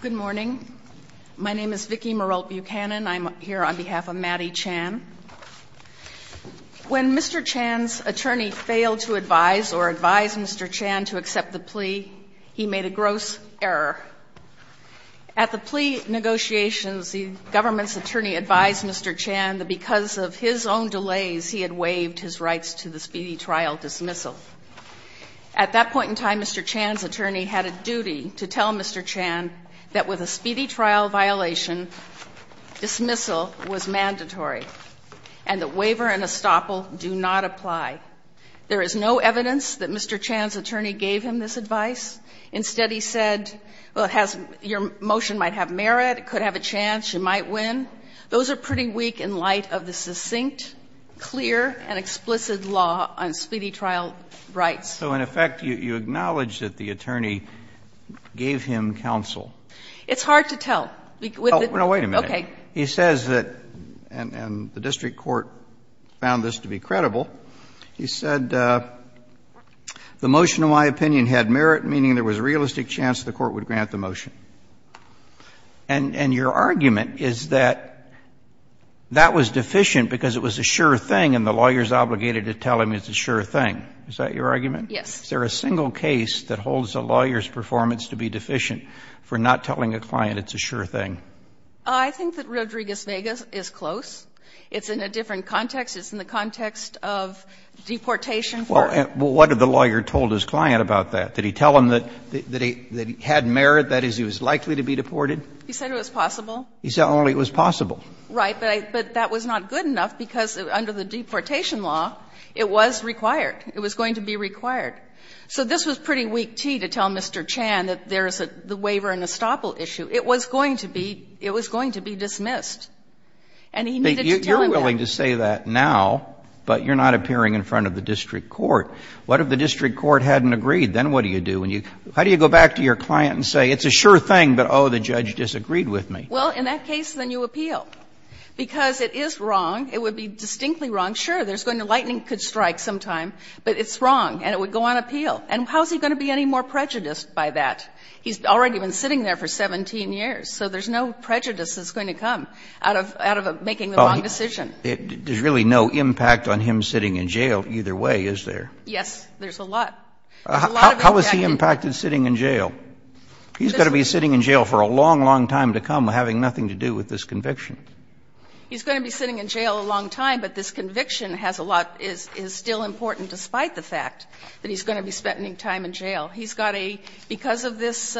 Good morning. My name is Vicki Meralt Buchanan. I'm here on behalf of Mady Chan. When Mr. Chan's attorney failed to advise or advise Mr. Chan to accept the plea, he made a gross error. At the plea negotiations, the government's attorney advised Mr. Chan that because of his own delays, he had waived his rights to the speedy trial dismissal. At that point in time, Mr. Chan's attorney had a duty to tell Mr. Chan that with a speedy trial violation, dismissal was mandatory and that waiver and estoppel do not apply. There is no evidence that Mr. Chan's attorney gave him this advice. Instead, he said, well, it has your motion might have merit, it could have a chance, you might win. Those are pretty weak in light of the succinct, clear, and explicit law on speedy trial rights. So in effect, you acknowledge that the attorney gave him counsel. It's hard to tell. No, wait a minute. Okay. He says that, and the district court found this to be credible, he said, the motion of my opinion had merit, meaning there was a realistic chance the court would grant the motion. And your argument is that that was deficient because it was a sure thing and the lawyer is obligated to tell him it's a sure thing. Is that your argument? Yes. Is there a single case that holds a lawyer's performance to be deficient for not telling a client it's a sure thing? I think that Rodriguez-Vegas is close. It's in a different context. It's in the context of deportation. Well, what did the lawyer told his client about that? Did he tell him that he had merit, that is, he was likely to be deported? He said it was possible. He said only it was possible. Right. But that was not good enough because under the deportation law, it was required. It was going to be required. So this was pretty weak tea to tell Mr. Chan that there is a waiver and estoppel issue. It was going to be dismissed. And he needed to tell him that. You're willing to say that now, but you're not appearing in front of the district court. What if the district court hadn't agreed? Then what do you do? How do you go back to your client and say it's a sure thing, but, oh, the judge disagreed with me? Well, in that case, then you appeal. Because it is wrong. It would be distinctly wrong. Sure, there's going to be a lightning strike sometime, but it's wrong, and it would go on appeal. And how is he going to be any more prejudiced by that? He's already been sitting there for 17 years. So there's no prejudice that's going to come out of making the wrong decision. There's really no impact on him sitting in jail either way, is there? Yes, there's a lot. There's a lot of impact. How is he impacted sitting in jail? He's going to be sitting in jail for a long, long time to come having nothing to do with this conviction. He's going to be sitting in jail a long time, but this conviction has a lot of issues, is still important despite the fact that he's going to be spending time in jail. He's got a — because of this,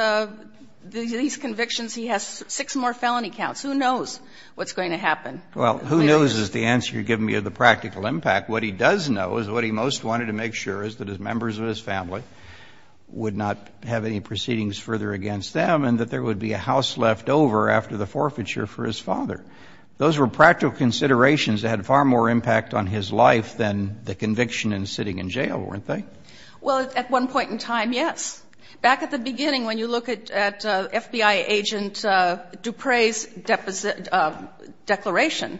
these convictions, he has six more felony counts. Who knows what's going to happen? Well, who knows is the answer you're giving me of the practical impact. What he does know is what he most wanted to make sure is that his members of his family would not have any proceedings further against them and that there would be a house left over after the forfeiture for his father. Those were practical considerations that had far more impact on his life than the conviction and sitting in jail, weren't they? Well, at one point in time, yes. Back at the beginning, when you look at FBI agent Dupre's declaration,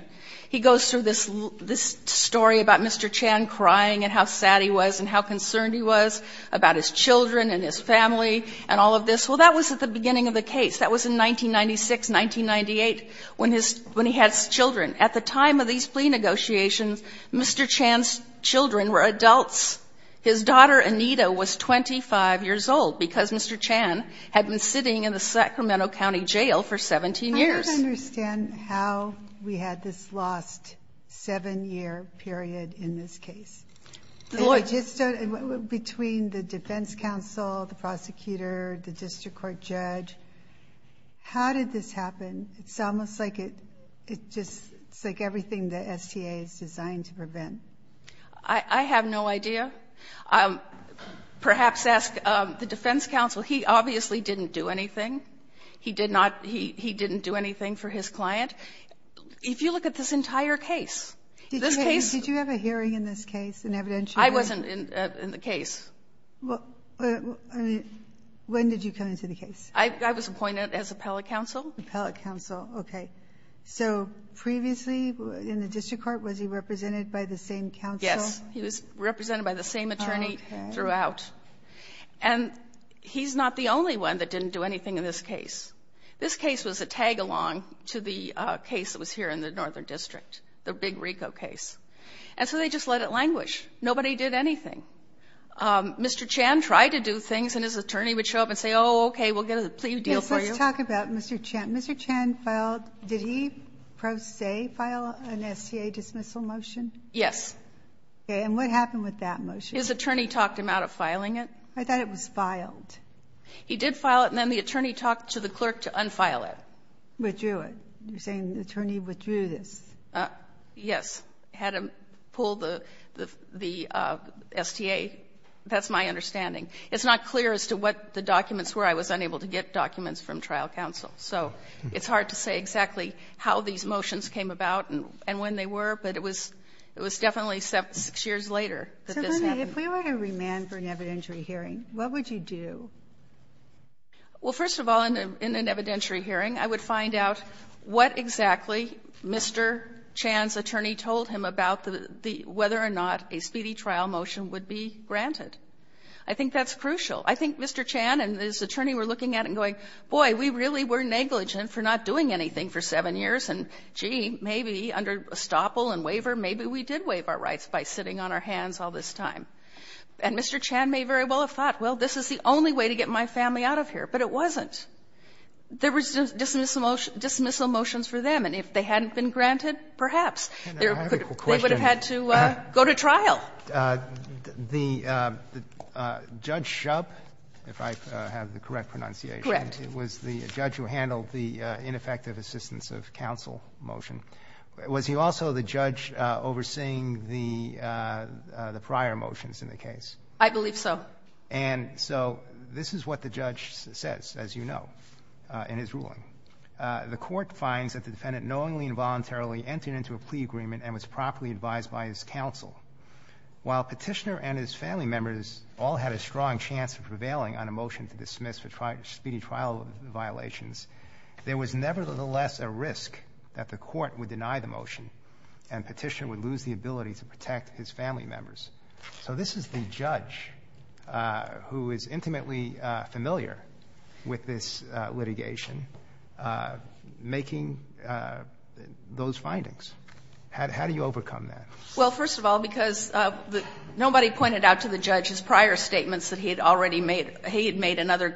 he goes through this story about Mr. Chan crying and how sad he was and how concerned he was about his children and his family and all of this. Well, that was at the beginning of the case. That was in 1996, 1998, when his — when he had children. At the time of these plea negotiations, Mr. Chan's children were adults. His daughter Anita was 25 years old because Mr. Chan had been sitting in the Sacramento County jail for 17 years. I don't understand how we had this lost seven-year period in this case. It just — between the defense counsel, the prosecutor, the district court judge, how did this happen? It's almost like it just — it's like everything the STA is designed to prevent. I have no idea. Perhaps ask the defense counsel. He obviously didn't do anything. He did not — he didn't do anything for his client. If you look at this entire case, this case — Did you have a hearing in this case, an evidentiary? I wasn't in the case. When did you come into the case? I was appointed as appellate counsel. Appellate counsel. Okay. So previously in the district court, was he represented by the same counsel? Yes. He was represented by the same attorney throughout. Okay. And he's not the only one that didn't do anything in this case. This case was a tag-along to the case that was here in the northern district, the big RICO case. And so they just let it languish. Nobody did anything. Mr. Chan tried to do things, and his attorney would show up and say, oh, okay, we'll get a plea deal for you. Let's talk about Mr. Chan. Mr. Chan filed — did he pro se file an STA dismissal motion? Yes. Okay. And what happened with that motion? His attorney talked him out of filing it. I thought it was filed. He did file it, and then the attorney talked to the clerk to unfile it. Withdrew it. You're saying the attorney withdrew this. Yes. Had him pull the STA. That's my understanding. It's not clear as to what the documents were. I was unable to get documents from trial counsel. So it's hard to say exactly how these motions came about and when they were, but it was definitely six years later that this happened. If we were to remand for an evidentiary hearing, what would you do? Well, first of all, in an evidentiary hearing, I would find out what exactly Mr. Chan's attorney told him about the — whether or not a speedy trial motion would be granted. I think that's crucial. I think Mr. Chan and his attorney were looking at it and going, boy, we really were negligent for not doing anything for seven years, and, gee, maybe under estoppel and waiver, maybe we did waive our rights by sitting on our hands all this time. And Mr. Chan may very well have thought, well, this is the only way to get my family out of here, but it wasn't. There was dismissal motions for them, and if they hadn't been granted, perhaps they would have had to go to trial. The Judge Shub, if I have the correct pronunciation. Correct. It was the judge who handled the ineffective assistance of counsel motion. Was he also the judge overseeing the prior motions in the case? I believe so. And so this is what the judge says, as you know, in his ruling. The court finds that the defendant knowingly and voluntarily entered into a plea agreement and was properly advised by his counsel. While Petitioner and his family members all had a strong chance of prevailing on a motion to dismiss for speedy trial violations, there was nevertheless a risk that the court would deny the motion and Petitioner would lose the ability to protect his family members. So this is the judge who is intimately familiar with this litigation making those findings. How do you overcome that? Well, first of all, because nobody pointed out to the judge his prior statements that he had already made. He had made in other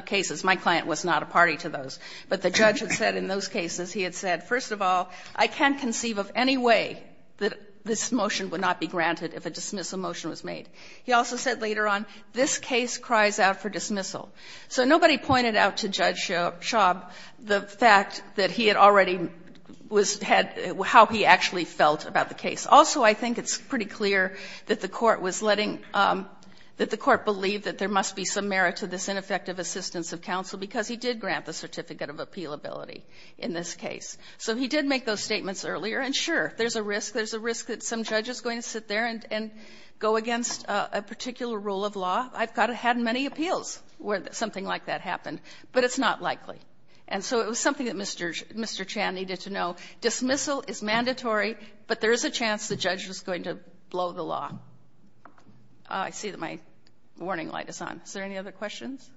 cases. My client was not a party to those. But the judge had said in those cases, he had said, first of all, I can't conceive of any way that this motion would not be granted if a dismissal motion was made. He also said later on, this case cries out for dismissal. So nobody pointed out to Judge Shub the fact that he had already was had how he actually felt about the case. Also, I think it's pretty clear that the court was letting the court believe that there must be some merit to this ineffective assistance of counsel because he did grant the certificate of appealability in this case. So he did make those statements earlier. And, sure, there's a risk. There's a risk that some judge is going to sit there and go against a particular rule of law. I've got to have many appeals where something like that happened. But it's not likely. And so it was something that Mr. Chan needed to know. Dismissal is mandatory, but there is a chance the judge was going to blow the law. Oh, I see that my warning light is on. Is there any other questions?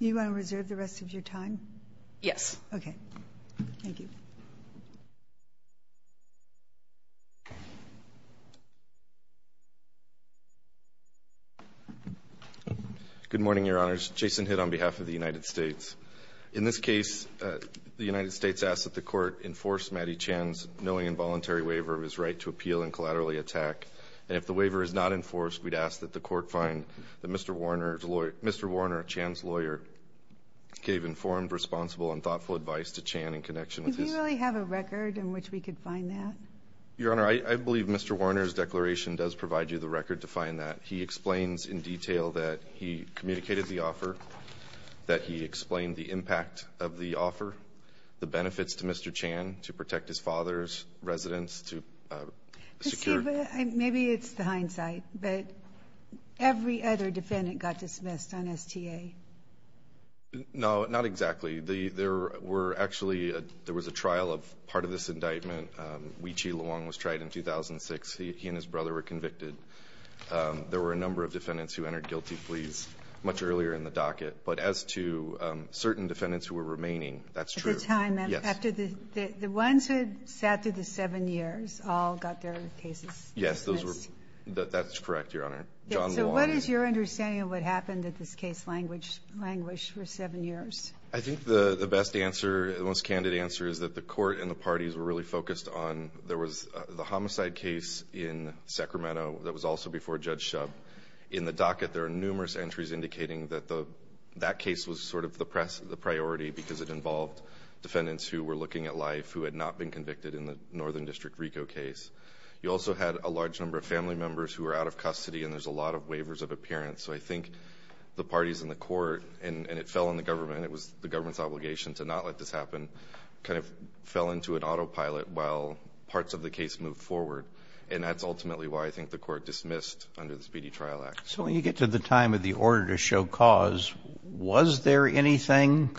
Do you want to reserve the rest of your time? Yes. Okay. Thank you. Good morning, Your Honors. Jason Hitt on behalf of the United States. In this case, the United States asks that the Court enforce Matty Chan's knowing involuntary waiver of his right to appeal and collaterally attack. And if the waiver is not enforced, we'd ask that the Court find that Mr. Warner, Chan's lawyer, gave informed, responsible, and thoughtful advice to Chan in connection with his. Does he really have a record in which we could find that? Your Honor, I believe Mr. Warner's declaration does provide you the record to find that. He explains in detail that he communicated the offer, that he explained the impact of the offer, the benefits to Mr. Chan to protect his father's residence, to secure. Let's see. Maybe it's the hindsight. But every other defendant got dismissed on STA. No, not exactly. There were actually a – there was a trial of part of this indictment. Wee Chi Luong was tried in 2006. He and his brother were convicted. There were a number of defendants who entered guilty pleas much earlier in the docket. But as to certain defendants who were remaining, that's true. At the time, after the – the ones who had sat through the seven years all got their cases dismissed? Yes. Those were – that's correct, Your Honor. John Luong. So what is your understanding of what happened that this case languished for seven years? I think the best answer, the most candid answer, is that the Court and the parties were really focused on – there was the homicide case in Sacramento that was also before Judge Shub. In the docket, there are numerous entries indicating that that case was sort of the priority because it involved defendants who were looking at life who had not been convicted in the Northern District RICO case. You also had a large number of family members who were out of custody, and there's a lot of waivers of appearance. So I think the parties and the Court – and it fell on the government. It was the government's obligation to not let this happen. It kind of fell into an autopilot while parts of the case moved forward. And that's ultimately why I think the Court dismissed under the Speedy Trial Act. So when you get to the time of the order to show cause, was there anything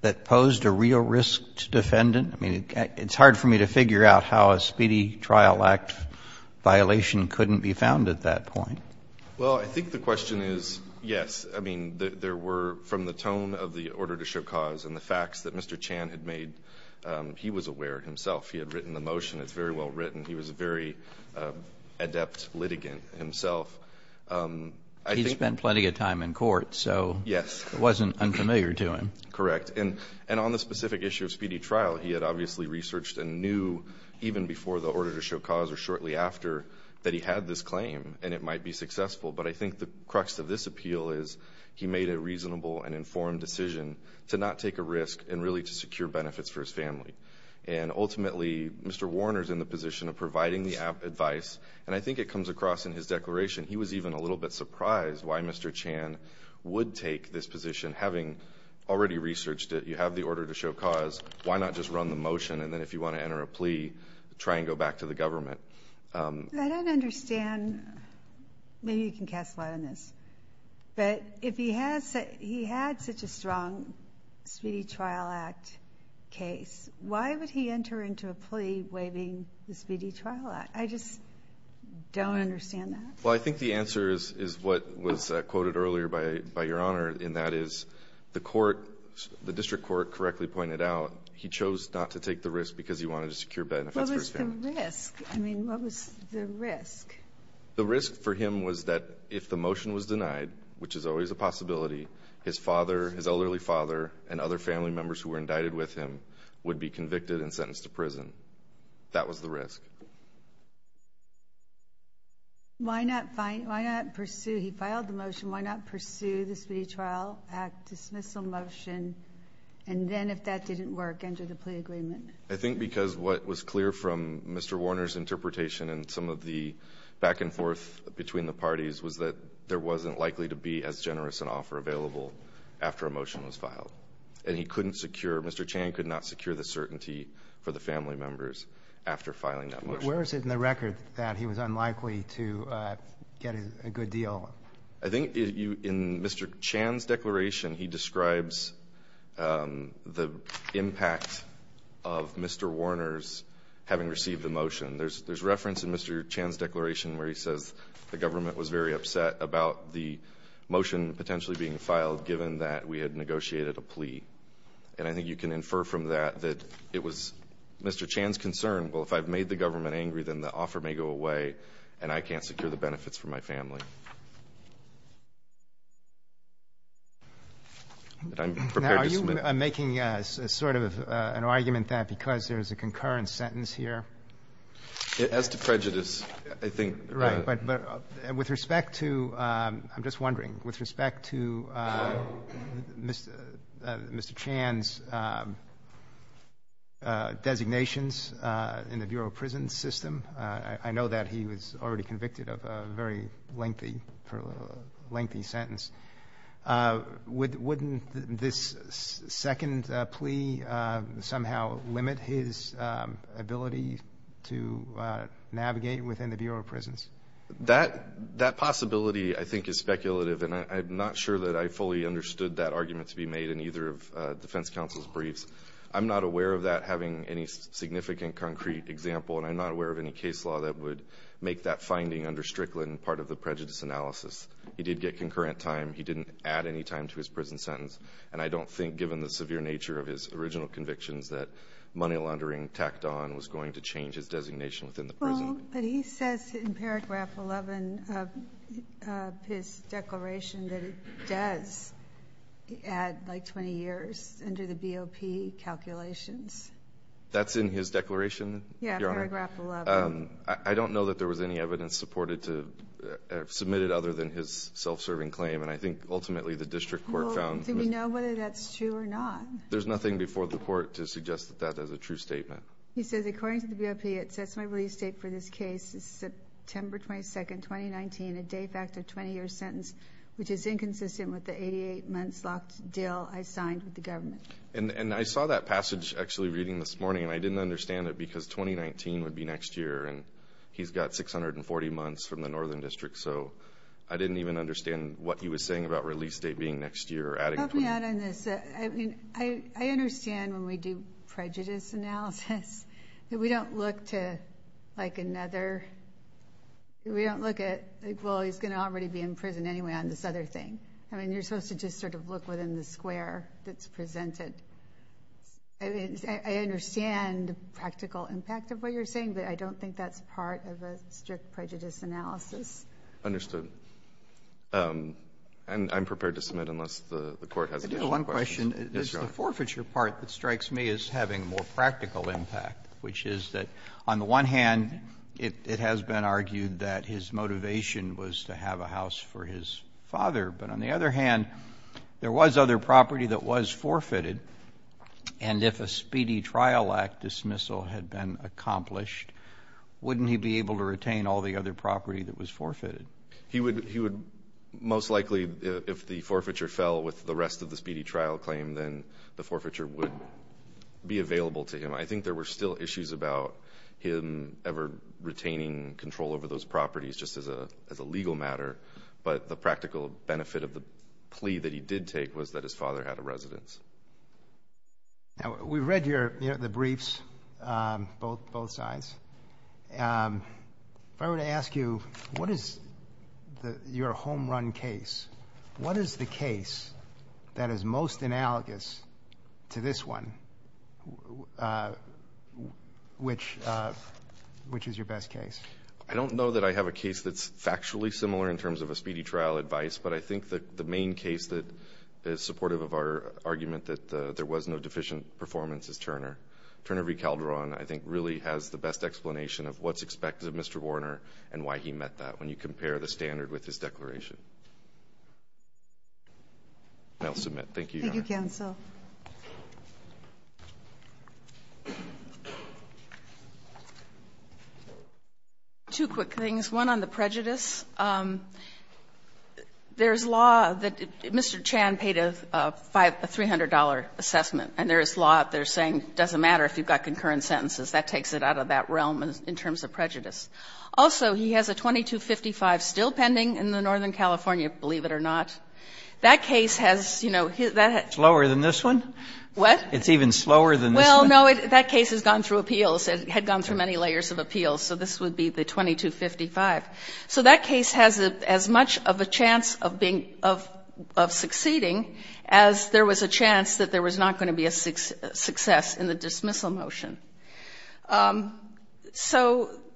that posed a real risk to defendant? I mean, it's hard for me to figure out how a Speedy Trial Act violation couldn't be found at that point. Well, I think the question is yes. I mean, there were, from the tone of the order to show cause and the facts that Mr. Chan had made, he was aware himself. He had written the motion. It's very well written. He was a very adept litigant himself. He spent plenty of time in court, so it wasn't unfamiliar to him. Correct. And on the specific issue of Speedy Trial, he had obviously researched and knew even before the order to show cause or shortly after that he had this claim and it might be successful. But I think the crux of this appeal is he made a reasonable and informed decision to not take a risk and really to secure benefits for his family. And ultimately, Mr. Warner is in the position of providing the advice. And I think it comes across in his declaration. He was even a little bit surprised why Mr. Chan would take this position, having already researched it. You have the order to show cause. Why not just run the motion and then if you want to enter a plea, try and go back to the government? I don't understand. Maybe you can cast light on this. But if he had such a strong Speedy Trial Act case, why would he enter into a plea waiving the Speedy Trial Act? I just don't understand that. Well, I think the answer is what was quoted earlier by Your Honor, and that is the court, the district court correctly pointed out he chose not to take the risk because he wanted to secure benefits for his family. What was the risk? I mean, what was the risk? The risk for him was that if the motion was denied, which is always a possibility, his father, his elderly father, and other family members who were indicted with him would be convicted and sentenced to prison. That was the risk. Why not pursue? He filed the motion. Why not pursue the Speedy Trial Act dismissal motion? And then if that didn't work, enter the plea agreement? I think because what was clear from Mr. Warner's interpretation and some of the back and forth between the parties was that there wasn't likely to be as generous an offer available after a motion was filed. And he couldn't secure, Mr. Chan could not secure the certainty for the family members after filing that motion. Where is it in the record that he was unlikely to get a good deal? I think in Mr. Chan's declaration he describes the impact of Mr. Warner's having received the motion. There's reference in Mr. Chan's declaration where he says the government was very upset about the motion potentially being filed given that we had negotiated a plea. And I think you can infer from that that it was Mr. Chan's concern, well, if I've made the government angry, then the offer may go away and I can't secure the benefits for my family. I'm prepared to submit. Are you making sort of an argument that because there's a concurrent sentence here? As to prejudice, I think the ---- Right. But with respect to ---- I'm just wondering. With respect to Mr. Chan's designations in the Bureau of Prisons system, I know that he was already convicted of a very lengthy, lengthy sentence. Wouldn't this second plea somehow limit his ability to navigate within the Bureau of Prisons? That possibility I think is speculative, and I'm not sure that I fully understood that argument to be made in either of defense counsel's briefs. I'm not aware of that having any significant concrete example, and I'm not aware of any case law that would make that finding under Strickland part of the prejudice analysis. He did get concurrent time. He didn't add any time to his prison sentence. And I don't think, given the severe nature of his original convictions, that money laundering tacked on was going to change his designation within the prison. Well, but he says in paragraph 11 of his declaration that it does add like 20 years under the BOP calculations. That's in his declaration, Your Honor? Yeah, paragraph 11. I don't know that there was any evidence supported to submit it other than his self-serving claim. And I think ultimately the district court found ---- Well, do we know whether that's true or not? There's nothing before the Court to suggest that that is a true statement. He says, According to the BOP, it sets my release date for this case. It's September 22, 2019, a de facto 20-year sentence, which is inconsistent with the 88-months locked deal I signed with the government. And I saw that passage actually reading this morning, and I didn't understand it because 2019 would be next year, and he's got 640 months from the northern district, so I didn't even understand what he was saying about release date being next year. Help me out on this. I mean, I understand when we do prejudice analysis that we don't look to like another, we don't look at, well, he's going to already be in prison anyway on this other thing. I mean, you're supposed to just sort of look within the square that's presented. I mean, I understand the practical impact of what you're saying, but I don't think that's part of a strict prejudice analysis. Understood. And I'm prepared to submit unless the Court has additional questions. I do have one question. Yes, Your Honor. The forfeiture part that strikes me as having more practical impact, which is that on the one hand, it has been argued that his motivation was to have a house for his father. But on the other hand, there was other property that was forfeited, and if a speedy trial act dismissal had been accomplished, wouldn't he be able to retain all the other property that was forfeited? He would most likely, if the forfeiture fell with the rest of the speedy trial claim, then the forfeiture would be available to him. I think there were still issues about him ever retaining control over those properties just as a legal matter. But the practical benefit of the plea that he did take was that his father had a residence. Now, we've read the briefs, both sides. If I were to ask you, what is your home run case, what is the case that is most analogous to this one, which is your best case? I don't know that I have a case that's factually similar in terms of a speedy trial advice, but I think that the main case that is supportive of our argument that there was no deficient performance is Turner. Turner v. Calderon, I think, really has the best explanation of what's expected of Mr. Warner and why he met that when you compare the standard with his declaration. And I'll submit. Thank you, Your Honor. Thank you, counsel. Two quick things. One on the prejudice. There is law that Mr. Chan paid a $300 assessment, and there is law that they're saying it doesn't matter if you've got concurrent sentences. That takes it out of that realm in terms of prejudice. Also, he has a 2255 still pending in the Northern California, believe it or not. That case has, you know, that has. It's lower than this one? What? It's even slower than this one? Well, no, that case has gone through appeals. It had gone through many layers of appeals. So this would be the 2255. So that case has as much of a chance of being of succeeding as there was a chance that there was not going to be a success in the dismissal motion. So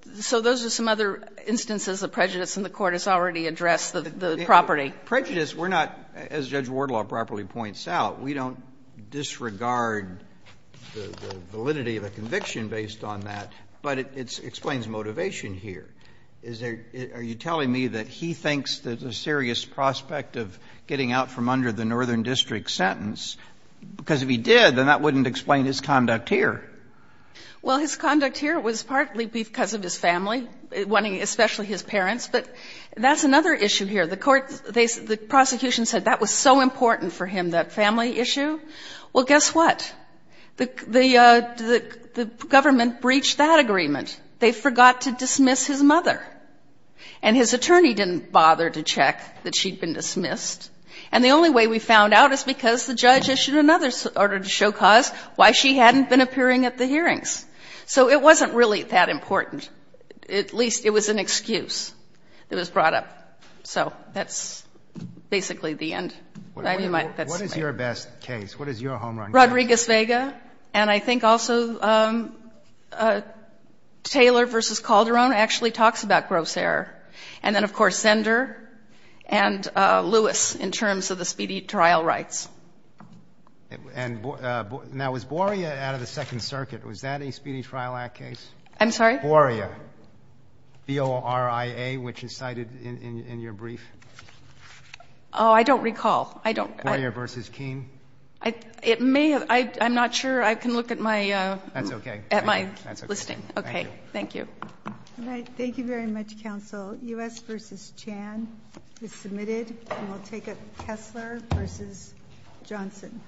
those are some other instances of prejudice, and the Court has already addressed the property. Prejudice, we're not, as Judge Wardlaw properly points out, we don't disregard the validity of a conviction based on that, but it explains motivation here. Are you telling me that he thinks there's a serious prospect of getting out from under the Northern district sentence, because if he did, then that wouldn't explain his conduct here? Well, his conduct here was partly because of his family, especially his parents. But that's another issue here. The prosecution said that was so important for him, that family issue. Well, guess what? The government breached that agreement. They forgot to dismiss his mother. And his attorney didn't bother to check that she'd been dismissed. And the only way we found out is because the judge issued another order to show cause why she hadn't been appearing at the hearings. So it wasn't really that important. At least it was an excuse that was brought up. So that's basically the end. What is your best case? What is your home run case? Rodriguez-Vega. And I think also Taylor v. Calderon actually talks about gross error. And then, of course, Zender and Lewis in terms of the speedy trial rights. And now, was Boria out of the Second Circuit? Was that a Speedy Trial Act case? I'm sorry? Boria. B-O-R-I-A, which is cited in your brief. Oh, I don't recall. Boria v. Keene. It may have. I'm not sure. I can look at my listing. That's okay. Thank you. Okay. Thank you. All right. Thank you very much, counsel. U.S. v. Chan is submitted. And we'll take it. Kessler v. Johnson.